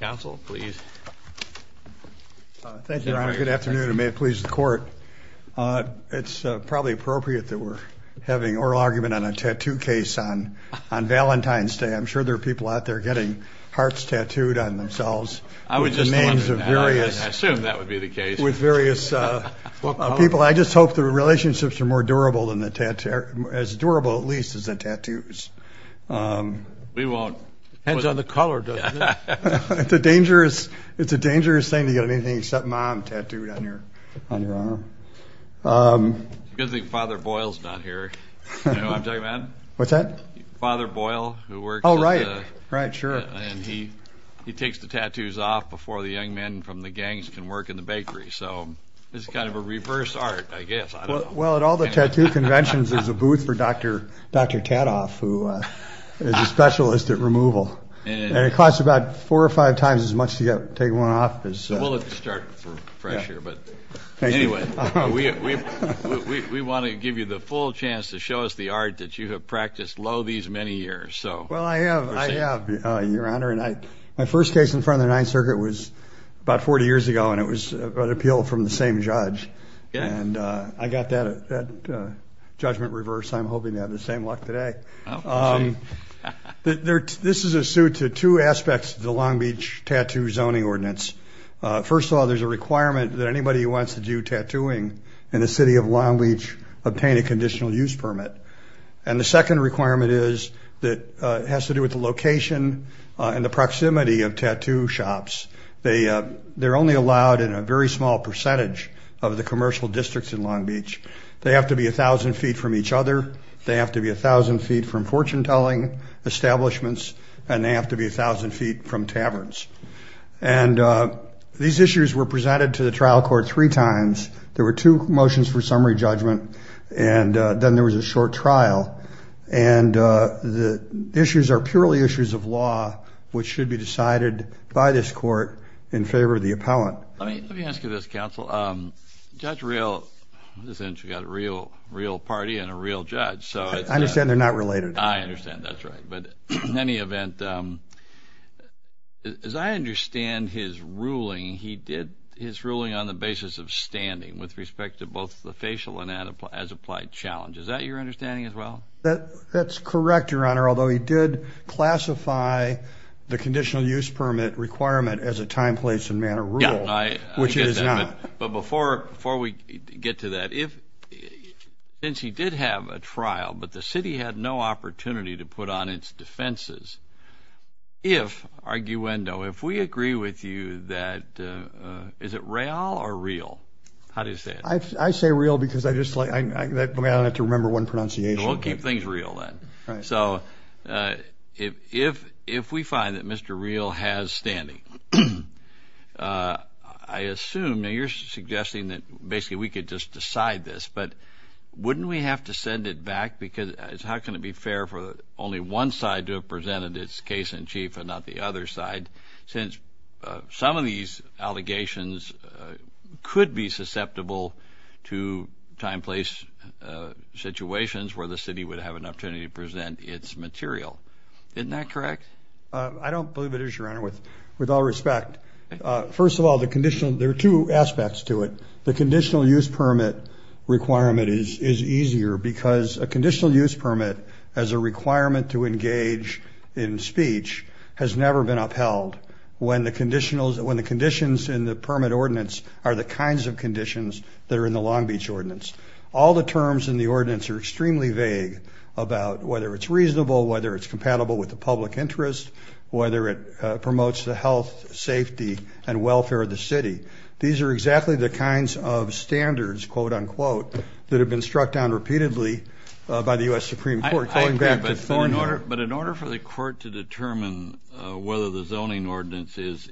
Council, please. Thank you, Your Honor. Good afternoon, and may it please the Court. It's probably appropriate that we're having oral argument on a tattoo case on on Valentine's Day. I'm sure there are people out there getting hearts tattooed on themselves with the names of various people. I just hope the relationships are more durable, as durable at least as the color does. It's a dangerous thing to get anything except mom tattooed on your arm. It's a good thing Father Boyle's not here. You know who I'm talking about? What's that? Father Boyle, who works at the... Oh, right, right, sure. And he he takes the tattoos off before the young men from the gangs can work in the bakery, so it's kind of a reverse art, I guess. Well, at all the tattoo conventions, there's a booth for Dr. Tattoff, who is a tattoo artist, and it costs about four or five times as much to get take one off as... We'll let you start fresh here, but anyway, we want to give you the full chance to show us the art that you have practiced lo these many years, so... Well, I have, Your Honor, and my first case in front of the Ninth Circuit was about 40 years ago, and it was an appeal from the same judge, and I got that judgment reversed. I'm hoping to have the same luck today. This is a suit to two aspects of the Long Beach Tattoo Zoning Ordinance. First of all, there's a requirement that anybody who wants to do tattooing in the city of Long Beach obtain a conditional use permit, and the second requirement is that it has to do with the location and the proximity of tattoo shops. They they're only allowed in a very small percentage of the commercial districts in Long Beach. They have to be a thousand feet from each other. They have to be a fortune-telling establishments, and they have to be a thousand feet from taverns, and these issues were presented to the trial court three times. There were two motions for summary judgment, and then there was a short trial, and the issues are purely issues of law, which should be decided by this court in favor of the appellant. Let me ask you this, counsel. Judge Real... We've got a Real Party and a not related. I understand, that's right, but in any event, as I understand his ruling, he did his ruling on the basis of standing with respect to both the facial and as-applied challenge. Is that your understanding as well? That's correct, Your Honor, although he did classify the conditional use permit requirement as a time, place, and manner rule, which it is not. But before we get to that, since he did have a trial, but the city had no opportunity to put on its defenses, if, arguendo, if we agree with you that... Is it Real or Real? How do you say it? I say Real because I just like... I don't have to remember one pronunciation. We'll keep things real then. So if we find that Mr. Real has standing, I assume... You're suggesting that basically we could just decide this, but wouldn't we have to send it back? Because how can it be fair for only one side to have presented its case-in-chief and not the other side, since some of these allegations could be susceptible to time, place situations where the city would have an opportunity to present its material. Isn't that correct? I don't believe it is, Your Honor, with all respect. First of all, the conditional... There are aspects to it. The conditional use permit requirement is easier because a conditional use permit, as a requirement to engage in speech, has never been upheld when the conditionals... when the conditions in the permit ordinance are the kinds of conditions that are in the Long Beach ordinance. All the terms in the ordinance are extremely vague about whether it's reasonable, whether it's compatible with the public interest, whether it promotes the health, safety, and welfare of the city. These are exactly the kinds of standards, quote unquote, that have been struck down repeatedly by the U.S. Supreme Court. But in order for the court to determine whether the zoning ordinance is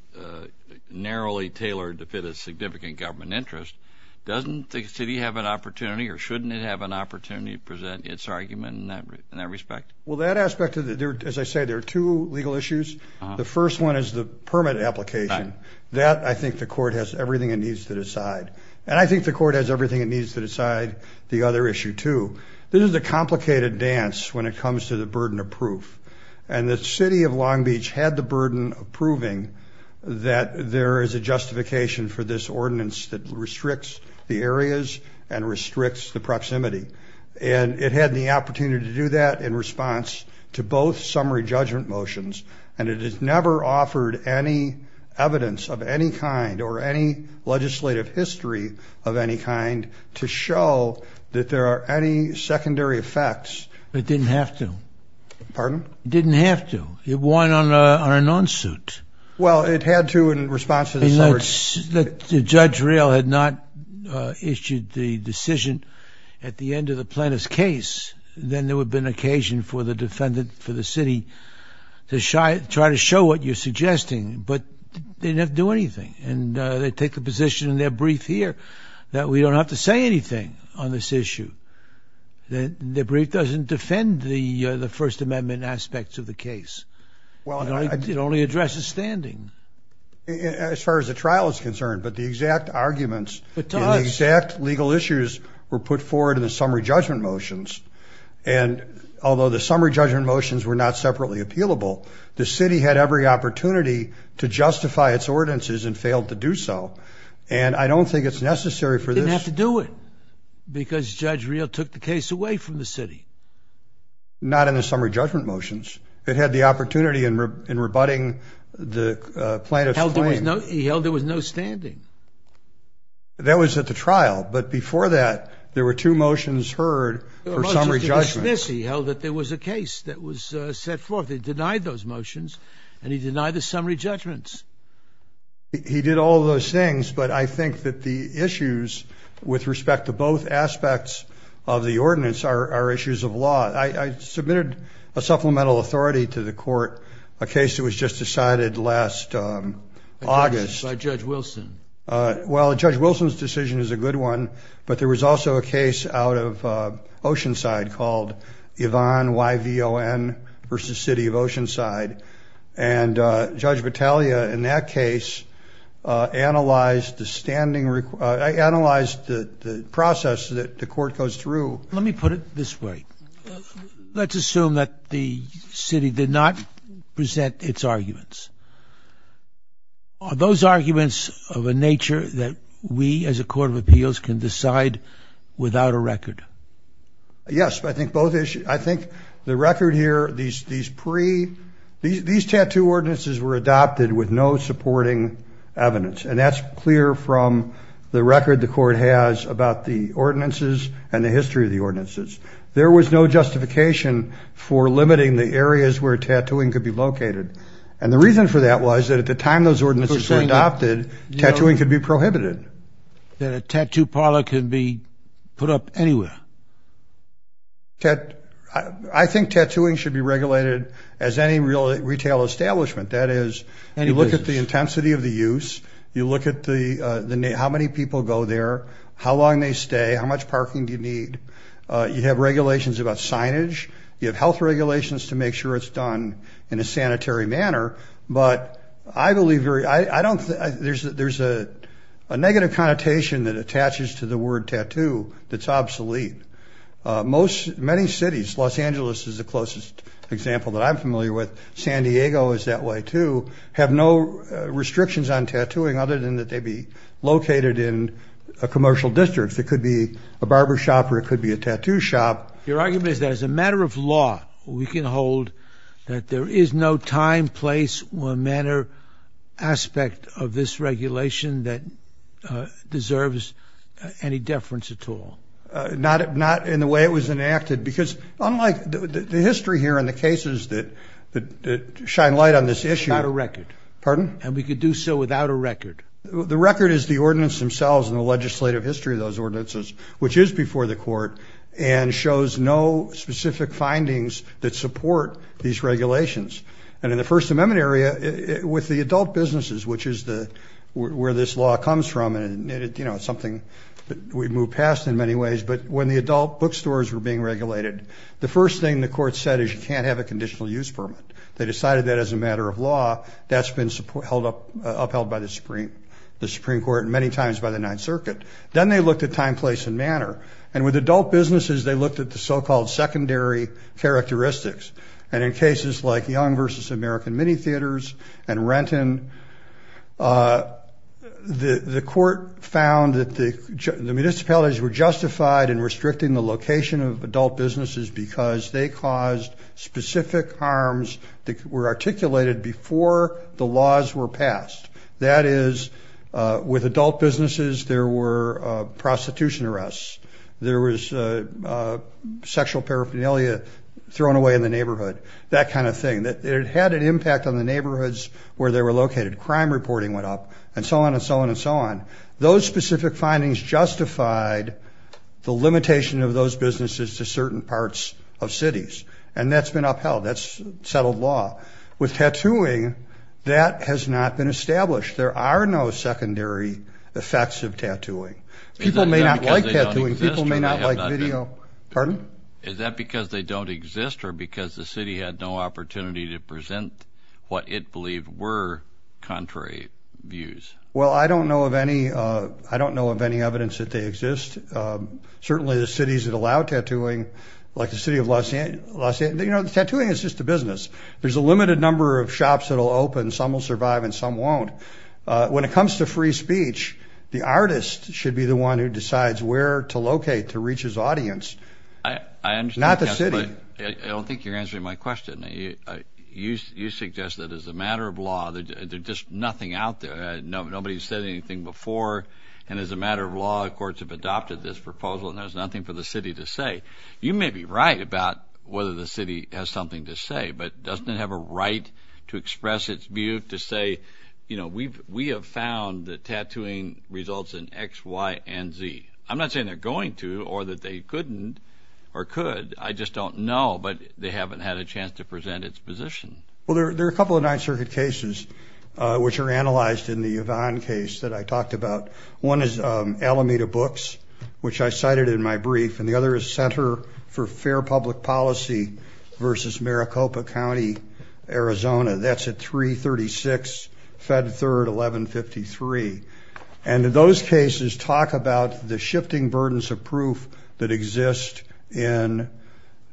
narrowly tailored to fit a significant government interest, doesn't the city have an opportunity, or shouldn't it have an opportunity, to present its argument in that respect? Well, that aspect of it, as I The first one is the permit application. That, I think the court has everything it needs to decide. And I think the court has everything it needs to decide the other issue, too. This is a complicated dance when it comes to the burden of proof. And the city of Long Beach had the burden of proving that there is a justification for this ordinance that restricts the areas and restricts the proximity. And it had the opportunity to do that in response to both summary judgment motions. And it has never offered any evidence of any kind, or any legislative history of any kind, to show that there are any secondary effects. It didn't have to. Pardon? It didn't have to. It won on an on-suit. Well, it had to in response to the summary. And let's, if Judge Real had not issued the decision at the end of the plaintiff's case, then there would have been occasion for the defendant, for the city, to try to show what you're suggesting. But they didn't have to do anything. And they take the position in their brief here that we don't have to say anything on this issue. The brief doesn't defend the the First Amendment aspects of the case. Well, it only addresses standing. As far as the trial is concerned, but the exact arguments, the exact legal issues were put forward in the summary judgment motions. And although the summary judgment motions were not separately appealable, the city had every opportunity to justify its ordinances and failed to do so. And I don't think it's necessary for this. They didn't have to do it, because Judge Real took the case away from the city. Not in the summary judgment motions. It had the opportunity in rebutting the plaintiff's claim. He held there was no standing. That was at the trial. But before that, there were two motions heard for summary judgment. He held that there was a case that was set forth. He denied those motions and he denied the summary judgments. He did all those things, but I think that the issues with respect to both aspects of the ordinance are issues of law. I submitted a supplemental authority to the court, a case that was just decided last August by Judge Wilson. Well, Judge Wilson's decision is a good one, but there was also a case out of Oceanside called Yvonne, Y-V-O-N, versus City of Oceanside. And Judge Battaglia, in that case, analyzed the standing, analyzed the process that the court goes through. Let me put it this way. Let's assume that the city did not present its arguments. Are those arguments of a nature that we, as a court of appeals, can decide without a record? Yes, I think both issues. I think the record here, these tattoo ordinances were adopted with no supporting evidence. And that's clear from the record the court has about the ordinances and the history of the ordinances. There was no justification for limiting the areas where tattooing could be located. And the reason for that was that at the time those ordinances were adopted, tattooing could be put up anywhere. I think tattooing should be regulated as any real retail establishment. That is, you look at the intensity of the use, you look at how many people go there, how long they stay, how much parking do you need. You have regulations about signage. You have health regulations to make sure it's done in a sanitary manner. But I believe very, I don't, there's a negative connotation that attaches to the word tattoo that's obsolete. Most, many cities, Los Angeles is the closest example that I'm familiar with, San Diego is that way too, have no restrictions on tattooing other than that they be located in a commercial district. It could be a barber shop or it could be a tattoo shop. Your argument is that as a matter of law, we can hold that there is no time, place, or manner aspect of this regulation that deserves any deference at all? Not in the way it was enacted, because unlike the history here and the cases that shine light on this issue. Without a record. Pardon? And we could do so without a record. The record is the ordinance themselves and the legislative history of those ordinances, which is before the court and shows no specific findings that support these regulations. And in the First Amendment area, with the adult businesses, which is the, where this law comes from, and it, you know, something that we've moved past in many ways, but when the adult bookstores were being regulated, the first thing the court said is you can't have a conditional use permit. They decided that as a matter of law, that's been held up, upheld by the Supreme, the Supreme Court many times by the Ninth Circuit. Then they looked at time, place, and manner. And with adult businesses, they looked at the so-called secondary characteristics. And in cases like Young versus American Mini Theaters and Renton, the court found that the municipalities were justified in restricting the location of adult businesses because they caused specific harms that were articulated before the laws were passed. That is, with adult businesses, there were prostitution arrests, there was sexual paraphernalia thrown away in the neighborhood, that kind of thing. That it had an impact on the neighborhoods where they were located. Crime reporting went up, and so on, and so on, and so on. Those specific findings justified the limitation of those businesses to certain parts of cities, and that's been upheld. That's settled law. With tattooing, that has not been established. There are no secondary effects of tattooing. People may not like tattooing, people may not like video. Pardon? Is that because they don't exist, or because the city had no opportunity to present what it believed were contrary views? Well, I don't know of any, I don't know of any evidence that they exist. Certainly the cities that allow tattooing, like the city of Los Angeles, you know, tattooing is just a business. There's a limited number of shops that will open, some will survive, and some won't. When it comes to free speech, the artist should be the one who decides where to locate to reach his audience, not the city. I don't think you're answering my question. You suggest that as a matter of law, there's just nothing out there. Nobody's said anything before, and as a matter of law, courts have adopted this proposal, and there's nothing for the city to say. You may be right about whether the city has something to say, but doesn't it have a to say, you know, we have found that tattooing results in X, Y, and Z. I'm not saying they're going to, or that they couldn't, or could, I just don't know, but they haven't had a chance to present its position. Well, there are a couple of Ninth Circuit cases which are analyzed in the Yvonne case that I talked about. One is Alameda Books, which I cited in my brief, and the other is Center for Fair 36, Fed 3rd, 1153, and those cases talk about the shifting burdens of proof that exist in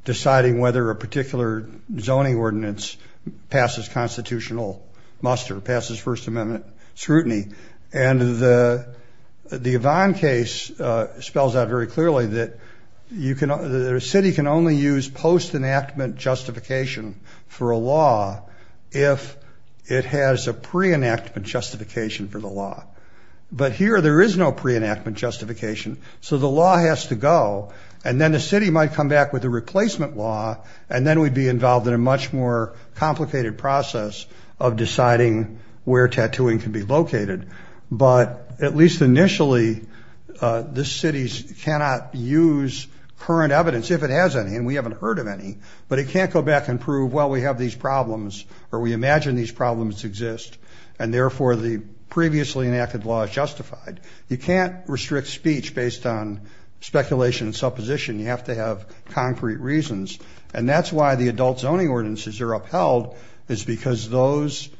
deciding whether a particular zoning ordinance passes constitutional muster, passes First Amendment scrutiny, and the Yvonne case spells out very clearly that you can, the city can only use post-enactment justification for a has a pre-enactment justification for the law, but here there is no pre-enactment justification, so the law has to go, and then the city might come back with a replacement law, and then we'd be involved in a much more complicated process of deciding where tattooing can be located, but at least initially, this city cannot use current evidence, if it has any, and we haven't heard of any, but it can't go back and prove, well, we have these problems, or we imagine these problems exist, and therefore the previously enacted law is justified. You can't restrict speech based on speculation and supposition. You have to have concrete reasons, and that's why the adult zoning ordinances are upheld, is because those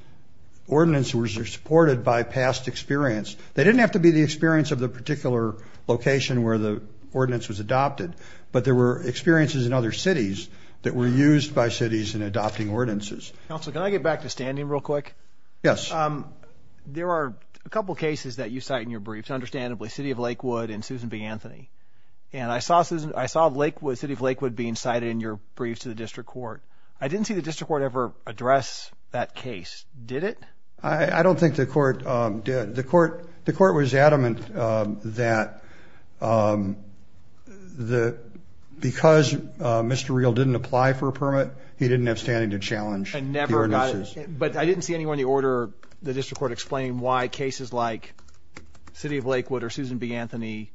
ordinances were supported by past experience. They didn't have to be the experience of the particular location where the ordinance was adopted, but there were experiences in other cities that were used by cities in Yes. There are a couple cases that you cite in your briefs, understandably City of Lakewood and Susan B. Anthony, and I saw Lakewood, City of Lakewood being cited in your briefs to the district court. I didn't see the district court ever address that case, did it? I don't think the court did. The court was adamant that because Mr. Real didn't apply for a permit, he didn't have standing to challenge the ordinances. But I didn't see anyone in the order, the district court, explaining why cases like City of Lakewood or Susan B. Anthony,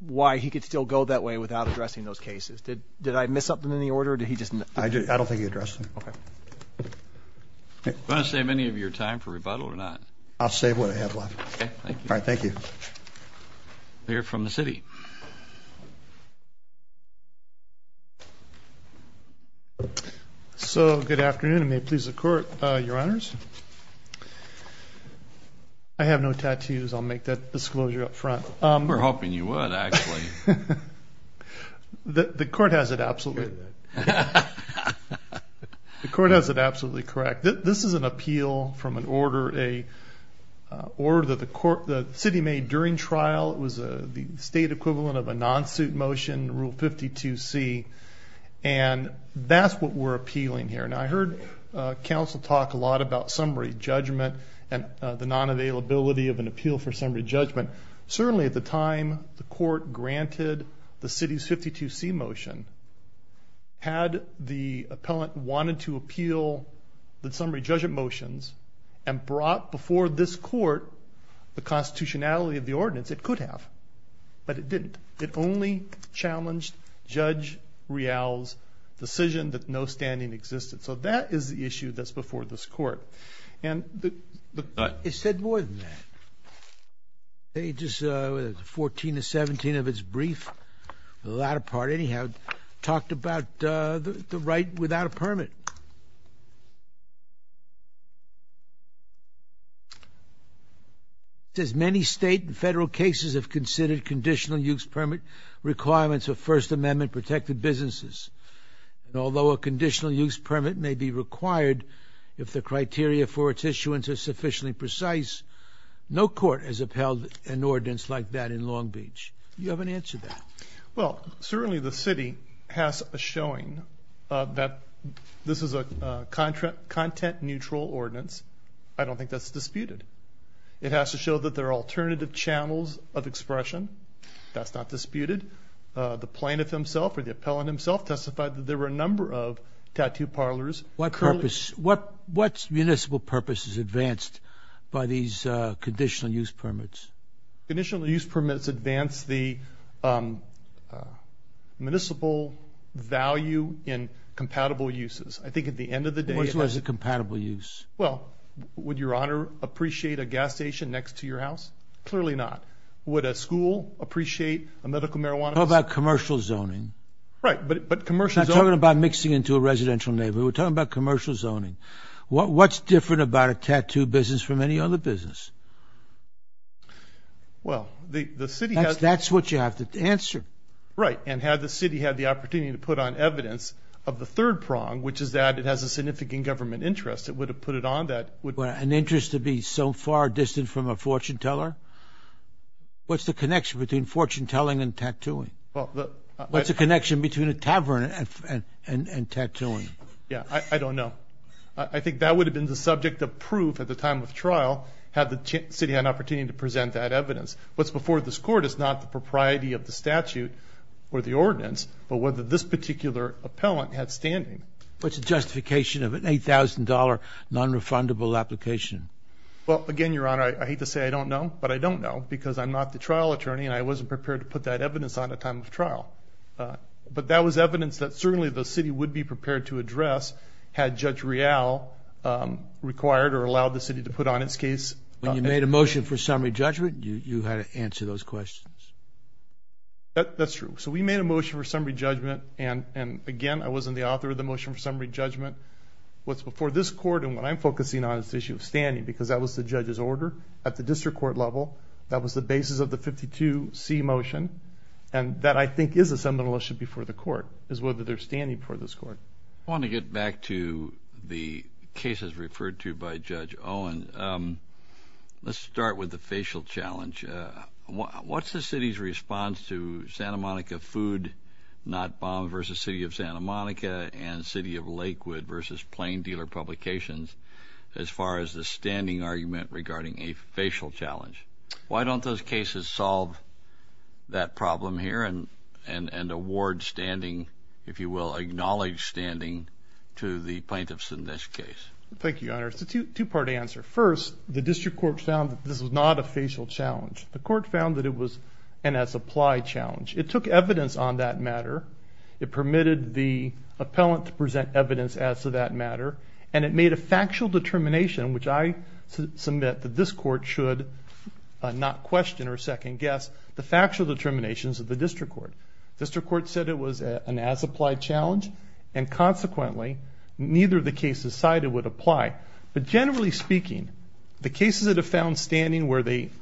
why he could still go that way without addressing those cases. Did I miss something in the order? I don't think he addressed them. Okay. Want to save any of your time for rebuttal or not? I'll save what I have left. All right. Thank you. Clear from the city. So, good afternoon and may it please the court, your honors. I have no tattoos. I'll make that disclosure up front. We're hoping you would, actually. The court has it absolutely. The court has it that the court, the city made during trial, it was the state equivalent of a non-suit motion, Rule 52C, and that's what we're appealing here. Now I heard counsel talk a lot about summary judgment and the non-availability of an appeal for summary judgment. Certainly at the time the court granted the city's 52C motion, had the appellant wanted to appeal the summary judgment motions and brought before this court the constitutionality of the ordinance, it could have, but it didn't. It only challenged Judge Rial's decision that no standing existed. So that is the issue that's before this court. And it said more than that. It just, 14 to 17 of its brief, the latter part, anyhow, talked about the right without a permit. It says, many state and federal cases have considered conditional use permit requirements of First Amendment protected businesses. And although a conditional use permit may be required if the criteria for its issuance are sufficiently precise, no court has upheld an ordinance like that in Long Beach. Do you have an answer to that? Well, certainly the city has a showing that this is a content-neutral ordinance. I don't think that's disputed. It has to show that there are alternative channels of expression. That's not disputed. The plaintiff himself or the appellant himself testified that there were a number of tattoo parlors. What purpose, what municipal purpose is advanced by these conditional use permits? Conditional use permits advance the municipal value in compatible uses. I think at the end of the day, which was a compatible use. Well, would your honor appreciate a gas station next to your house? Clearly not. Would a school appreciate a medical marijuana? How about commercial zoning? Right. But, but commercials are talking about mixing into a residential neighborhood. We're talking about commercial zoning. What, what's different about a tattoo business from any other business? Well, the city has... That's what you have to answer. Right. And had the city had the opportunity to put on evidence of the third prong, which is that it has a significant government interest, it would have put it on that... An interest to be so far distant from a fortune teller? What's the connection between fortune telling and tattooing? What's the connection between a tavern and tattooing? Yeah, I don't know. I think that would have been the subject of proof at the time of trial, had the city had an opportunity to present that evidence. What's before this court is not the propriety of the statute or the ordinance, but whether this particular appellant had standing. What's the justification of an $8,000 non-refundable application? Well, again, your honor, I hate to say I don't know, but I don't know because I'm not the trial attorney and I wasn't prepared to put that evidence on at time of trial. But that was evidence that certainly the city would be prepared to address had Judge Real required or allowed the city to put on its case. When you made a motion for summary judgment, you had to answer those questions. That's true. So we made a motion for summary judgment and again, I wasn't the author of the motion for summary judgment. What's before this court and what I'm focusing on is the issue of standing because that was the judge's order at the district court level. That was the basis of the 52C motion and that I think is a seminal issue before the court, is whether they're standing before this court. I want to get back to the cases referred to by Judge Owen. Let's start with the facial challenge. What's the city's response to Santa Monica Food, Not Bomb versus City of Santa Monica and City of Lakewood versus Plain Dealer Publications as far as the standing argument regarding a facial challenge? Why don't those cases solve that problem here and award standing, if you will, acknowledge standing to the plaintiffs in this case? Thank you, your not a facial challenge. The court found that it was an as-applied challenge. It took evidence on that matter. It permitted the appellant to present evidence as to that matter and it made a factual determination, which I submit that this court should not question or second-guess the factual determinations of the district court. District court said it was an as-applied challenge and consequently, neither of the cases cited would apply. But generally speaking, the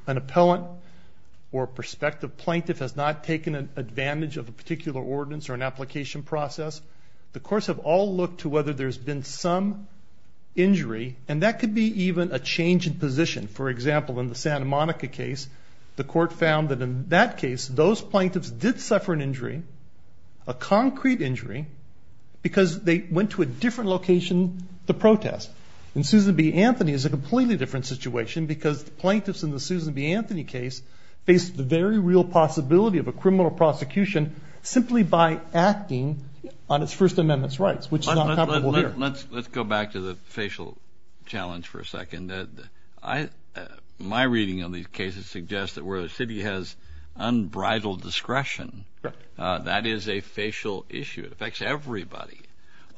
an appellant or prospective plaintiff has not taken an advantage of a particular ordinance or an application process. The courts have all looked to whether there's been some injury and that could be even a change in position. For example, in the Santa Monica case, the court found that in that case, those plaintiffs did suffer an injury, a concrete injury, because they went to a different location to protest. In Susan B. Anthony, it's a completely different situation because the plaintiffs in the Susan B. Anthony case faced the very real possibility of a criminal prosecution simply by acting on its First Amendment's rights, which is not comparable here. Let's go back to the facial challenge for a second. My reading of these cases suggests that where a city has unbridled discretion, that is a facial issue. It affects everybody.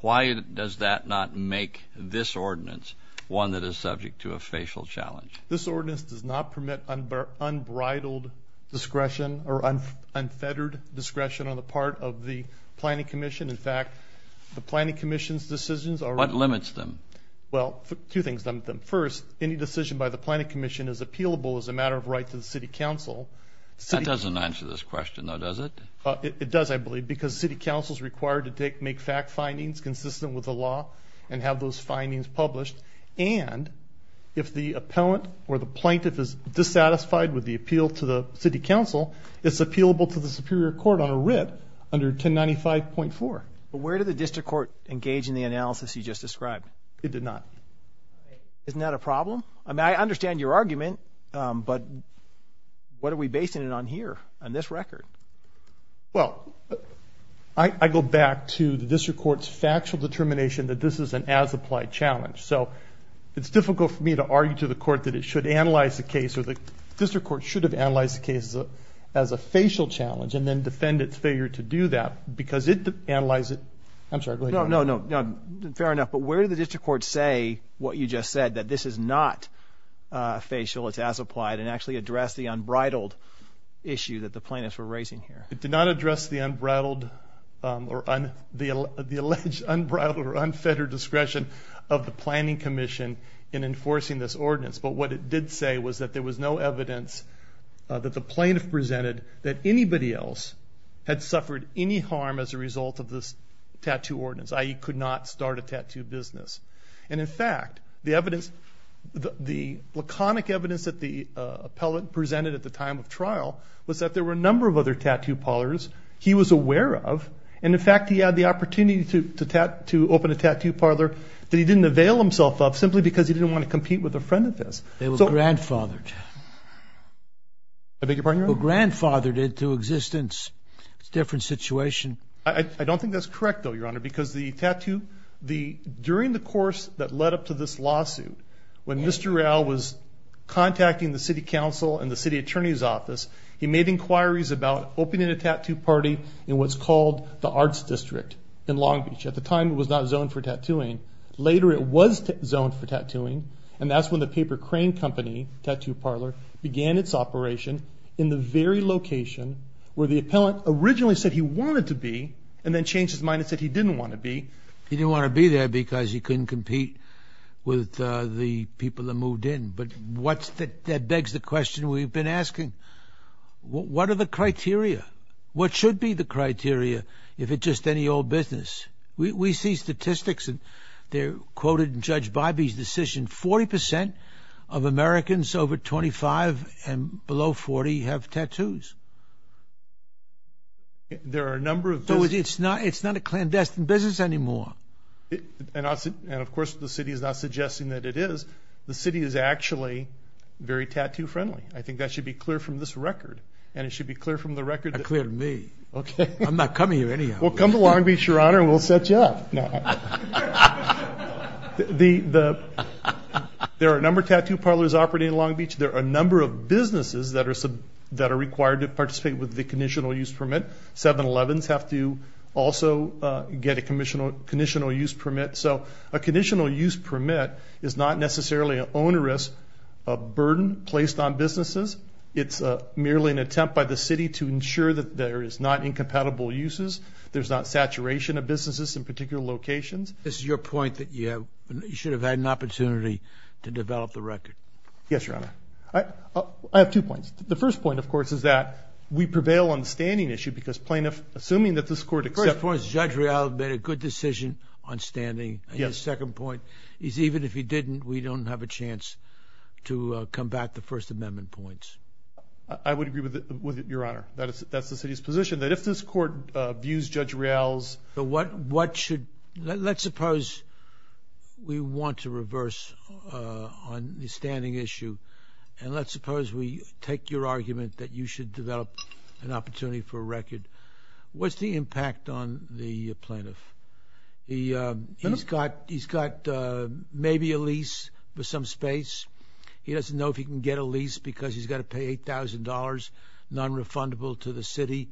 Why does that not make this ordinance one that is subject to a facial challenge? This ordinance does not permit unbridled discretion or unfettered discretion on the part of the Planning Commission. In fact, the Planning Commission's decisions are... What limits them? Well, two things limit them. First, any decision by the Planning Commission is appealable as a matter of right to the City Council. That doesn't answer this question, though, does it? It does, I with the law and have those findings published. And if the appellant or the plaintiff is dissatisfied with the appeal to the City Council, it's appealable to the Superior Court on a writ under 1095.4. But where did the District Court engage in the analysis you just described? It did not. Isn't that a problem? I mean, I understand your argument, but what are we basing it on here, on this record? Well, I go back to the District Court's factual determination that this is an as-applied challenge. So it's difficult for me to argue to the court that it should analyze the case or the District Court should have analyzed the case as a facial challenge and then defend its failure to do that because it analyzes... I'm sorry, go ahead. No, no, no, fair enough. But where did the District Court say what you just said, that this is not facial, it's as-applied, and actually addressed the unbridled issue that the plaintiffs were raising here? It did not address the unbridled or the alleged unbridled or unfettered discretion of the Planning Commission in enforcing this ordinance. But what it did say was that there was no evidence that the plaintiff presented that anybody else had suffered any harm as a result of this tattoo ordinance, i.e. could not start a tattoo business. And in fact, the evidence, the laconic evidence that the plaintiff presented at the time of trial was that there were a number of other tattoo parlors he was aware of. And in fact, he had the opportunity to open a tattoo parlor that he didn't avail himself of simply because he didn't want to compete with a friend of his. They were grandfathered. I beg your pardon, Your Honor? They were grandfathered into existence. It's a different situation. I don't think that's correct, though, Your Honor, because the tattoo... during the course that led up to this lawsuit, when Mr. Rowell was contacting the City Council and the City Attorney's Office, he made inquiries about opening a tattoo party in what's called the Arts District in Long Beach. At the time, it was not zoned for tattooing. Later, it was zoned for tattooing, and that's when the Paper Crane Company Tattoo Parlor began its operation in the very location where the appellant originally said he wanted to be and then changed his mind and said he didn't want to be. He didn't want to be there because he couldn't compete with the people that moved in. But what's that begs the question we've been asking? What are the criteria? What should be the criteria if it's just any old business? We see statistics, and they're quoted in Judge Bybee's decision. Forty percent of Americans over 25 and below 40 have tattoos. There are a number of... So it's not a clandestine business anymore. And of course the city is not suggesting that it is. The city is actually very tattoo friendly. I think that should be clear from this record, and it should be clear from the record... Clear to me? Okay. I'm not coming here anyhow. Well, come to Long Beach, Your Honor, and we'll set you up. There are a number of tattoo parlors operating in Long Beach. There are a number of businesses that are required to participate with the also get a conditional use permit. So a conditional use permit is not necessarily an onerous burden placed on businesses. It's merely an attempt by the city to ensure that there is not incompatible uses. There's not saturation of businesses in particular locations. This is your point that you have... You should have had an opportunity to develop the record. Yes, Your Honor. I have two points. The first point, of course, is that we prevail on the standing issue because plaintiff, assuming that this court accepts... Of course, Judge Rial made a good decision on standing. Yes. The second point is even if he didn't, we don't have a chance to combat the First Amendment points. I would agree with it, Your Honor. That's the city's position, that if this court views Judge Rial's... So what should... Let's suppose we want to reverse on the standing issue, and let's suppose we take your argument that you should develop an opportunity for a record. What's the impact on the plaintiff? He's got maybe a lease with some space. He doesn't know if he can get a lease because he's got to pay $8,000 non-refundable to the city.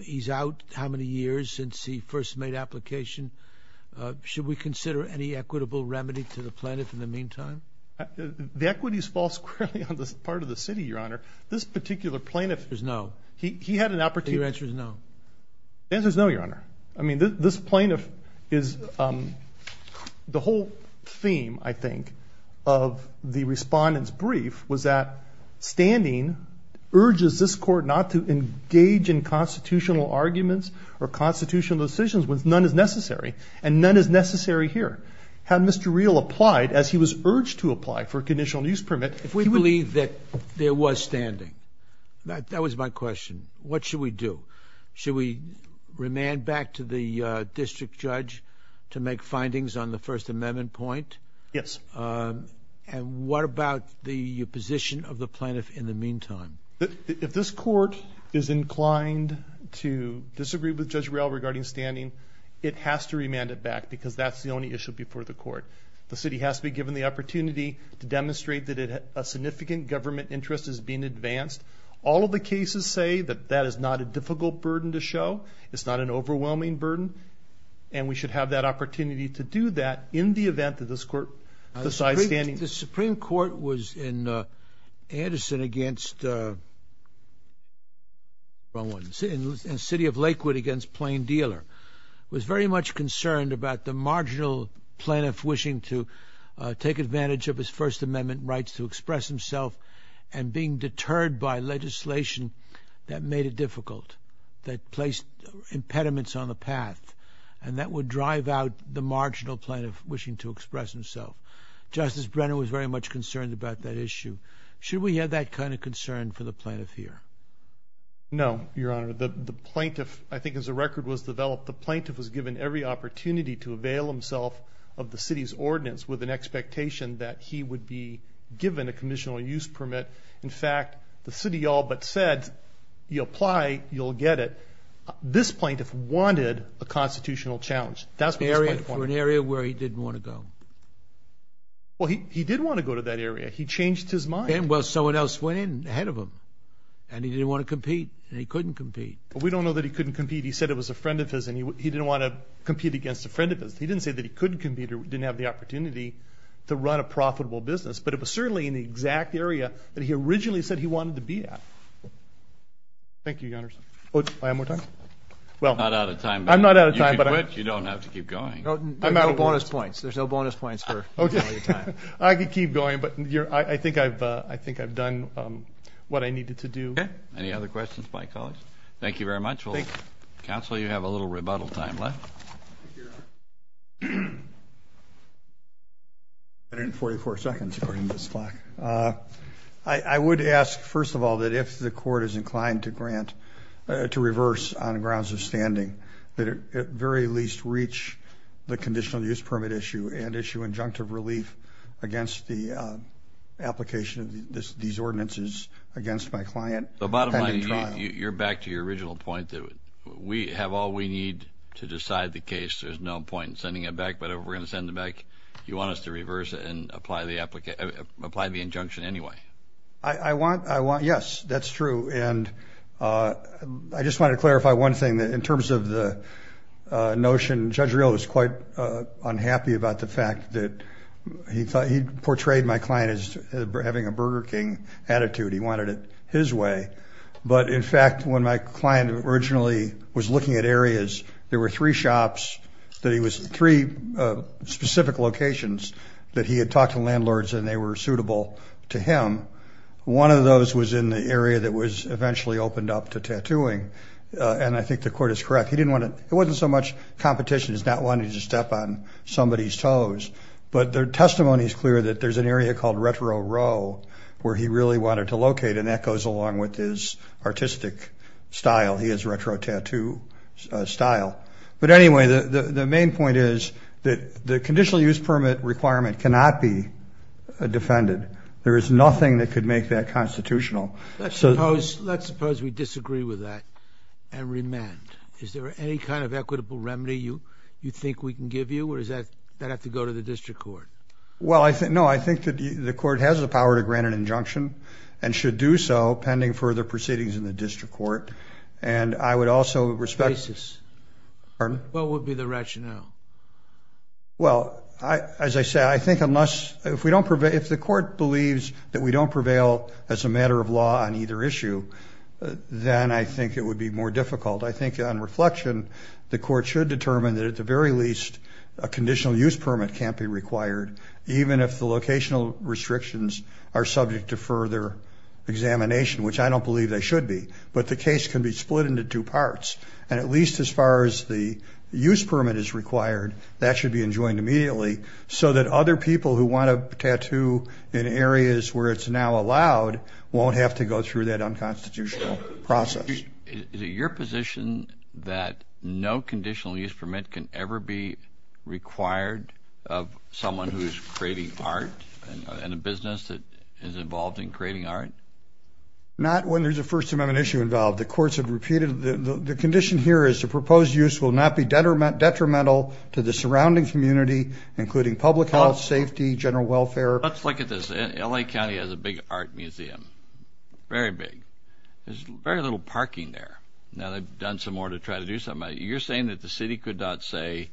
He's out how many years since he first made application. Should we consider any equitable remedy to the plaintiff in the meantime? The equities fall squarely on this part of the city, Your Honor. This Your answer is no. The answer is no, Your Honor. I mean, this plaintiff is... The whole theme, I think, of the respondent's brief was that standing urges this court not to engage in constitutional arguments or constitutional decisions when none is necessary, and none is necessary here. Had Mr. Rial applied as he was urged to apply for a conditional use permit... If we believe that there was standing, that was my question. What should we do? Should we remand back to the district judge to make findings on the First Amendment point? Yes. And what about the position of the plaintiff in the meantime? If this court is inclined to disagree with Judge Rial regarding standing, it has to remand it back because that's the only issue before the court. The city has to be given the opportunity to demonstrate that a significant government interest is being advanced. All of the cases say that that is not a difficult burden to show. It's not an overwhelming burden, and we should have that opportunity to do that in the event that this court decides standing. The Supreme Court was in Anderson against... wrong one... in the city of Lakewood against Plain Dealer, was very much concerned about the marginal plaintiff wishing to take advantage of his First Amendment rights to express himself and being deterred by legislation that made it difficult, that placed impediments on the path, and that would drive out the marginal plaintiff wishing to express himself. Justice Brennan was very much concerned about that issue. Should we have that kind of concern for the plaintiff here? No, Your Honor. The plaintiff, I think as a record was developed, the plaintiff was given every opportunity to avail himself of the expectation that he would be given a commissional use permit. In fact, the city all but said, you apply, you'll get it. This plaintiff wanted a constitutional challenge. That's the area for an area where he didn't want to go. Well, he did want to go to that area. He changed his mind. Well, someone else went in ahead of him, and he didn't want to compete, and he couldn't compete. We don't know that he couldn't compete. He said it was a friend of his, and he didn't want to compete against a friend of his. He didn't say that he couldn't compete or didn't have the opportunity to run a profitable business, but it was certainly in the exact area that he originally said he wanted to be at. Thank you, Your Honor. Oh, do I have more time? Well, I'm not out of time, but you don't have to keep going. I'm out of bonus points. There's no bonus points for your time. I could keep going, but I think I've done what I needed to do. Any other questions by colleagues? Thank you very much. Counsel, you have a little bottle of time left. I would ask, first of all, that if the court is inclined to grant, to reverse on grounds of standing, that it at very least reach the conditional use permit issue and issue injunctive relief against the application of these ordinances against my client. You're back to your position. You need to decide the case. There's no point in sending it back, but if we're going to send it back, you want us to reverse it and apply the injunction anyway. I want, yes, that's true. And I just want to clarify one thing. In terms of the notion, Judge Riehl was quite unhappy about the fact that he portrayed my client as having a Burger King attitude. He wanted it his way, but in fact, when my client originally was looking at areas, there were three shops, three specific locations that he had talked to landlords and they were suitable to him. One of those was in the area that was eventually opened up to tattooing, and I think the court is correct. He didn't want to, it wasn't so much competition as not wanting to step on somebody's toes, but their testimony is clear that there's an area called Retro Row where he really wanted to locate, and that goes along with his artistic style. He has retro tattoo style. But anyway, the main point is that the conditional use permit requirement cannot be defended. There is nothing that could make that constitutional. Let's suppose we disagree with that and remand. Is there any kind of equitable remedy you think we can give you, or does that have to go to the district court? Well, I think, no, I think that the court has the power to grant an injunction, and should do so pending further proceedings in the district court, and I would also respect... What would be the rationale? Well, as I say, I think unless, if we don't prevail, if the court believes that we don't prevail as a matter of law on either issue, then I think it would be more difficult. I think on reflection, the court should determine that at the very least, a conditional use permit can't be required, even if the locational restrictions are subject to further examination, which I don't believe they should be. But the case can be split into two parts, and at least as far as the use permit is required, that should be enjoined immediately, so that other people who want to tattoo in areas where it's now allowed won't have to go through that unconstitutional process. Is it your position that no conditional use permit can ever be required of someone who's creating art and a business that is involved in creating art? Not when there's a First Amendment issue involved. The courts have repeated the condition here is the proposed use will not be detrimental to the surrounding community, including public health, safety, general welfare. Let's look at this. LA County has a big art museum, very big. There's very little parking there. Now they've done some more to try to do something. You're saying that the city could not say,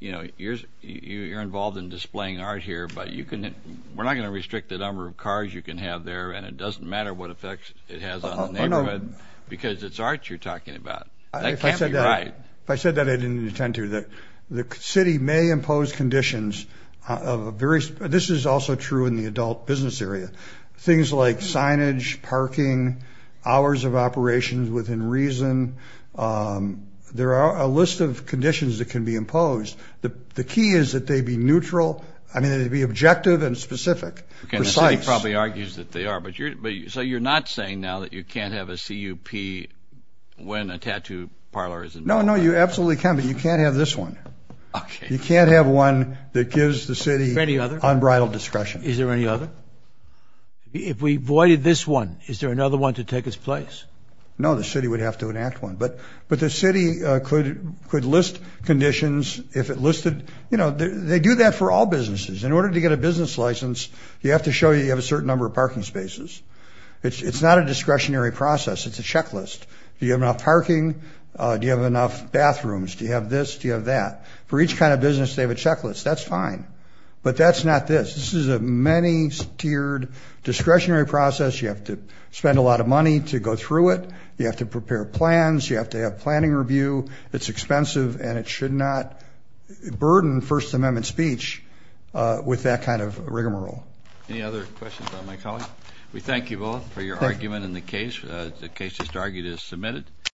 you know, you're involved in displaying art here, but you can, we're not going to restrict the number of cars you can have there, and it doesn't matter what effects it has on the neighborhood, because it's art you're talking about. That can't be right. If I said that I didn't intend to, the city may impose conditions of various, this is also true in the adult business area, things like signage, parking, hours of operations within reason. There are a list of conditions that can be imposed. The key is that they be neutral. I mean, they'd be objective and specific, precise. The city probably argues that they are, but you're, so you're not saying now that you can't have a CUP when a tattoo parlor is involved? No, no, you absolutely can, but you can't have this one. You can't have one that gives the city unbridled discretion. Is there any other? If we voided this one, is there another one to take its place? No, the city would have to enact one, but the city could list conditions if it listed, you know, they do that for all businesses. In order to get a business license, you have to show you have a certain number of parking spaces. It's not a discretionary process, it's a checklist. Do you have enough parking? Do you have enough bathrooms? Do you have this? Do you have that? For each kind of business, they have a checklist. That's fine, but that's not this. This is a many-tiered discretionary process. You have to spend a lot of money to go through it. You have to prepare plans. You have to have planning review. It's expensive, and it should not burden First Amendment speech with that kind of rigmarole. Any other questions on my colleague? We thank you both for your argument in the case. The case just argued is submitted.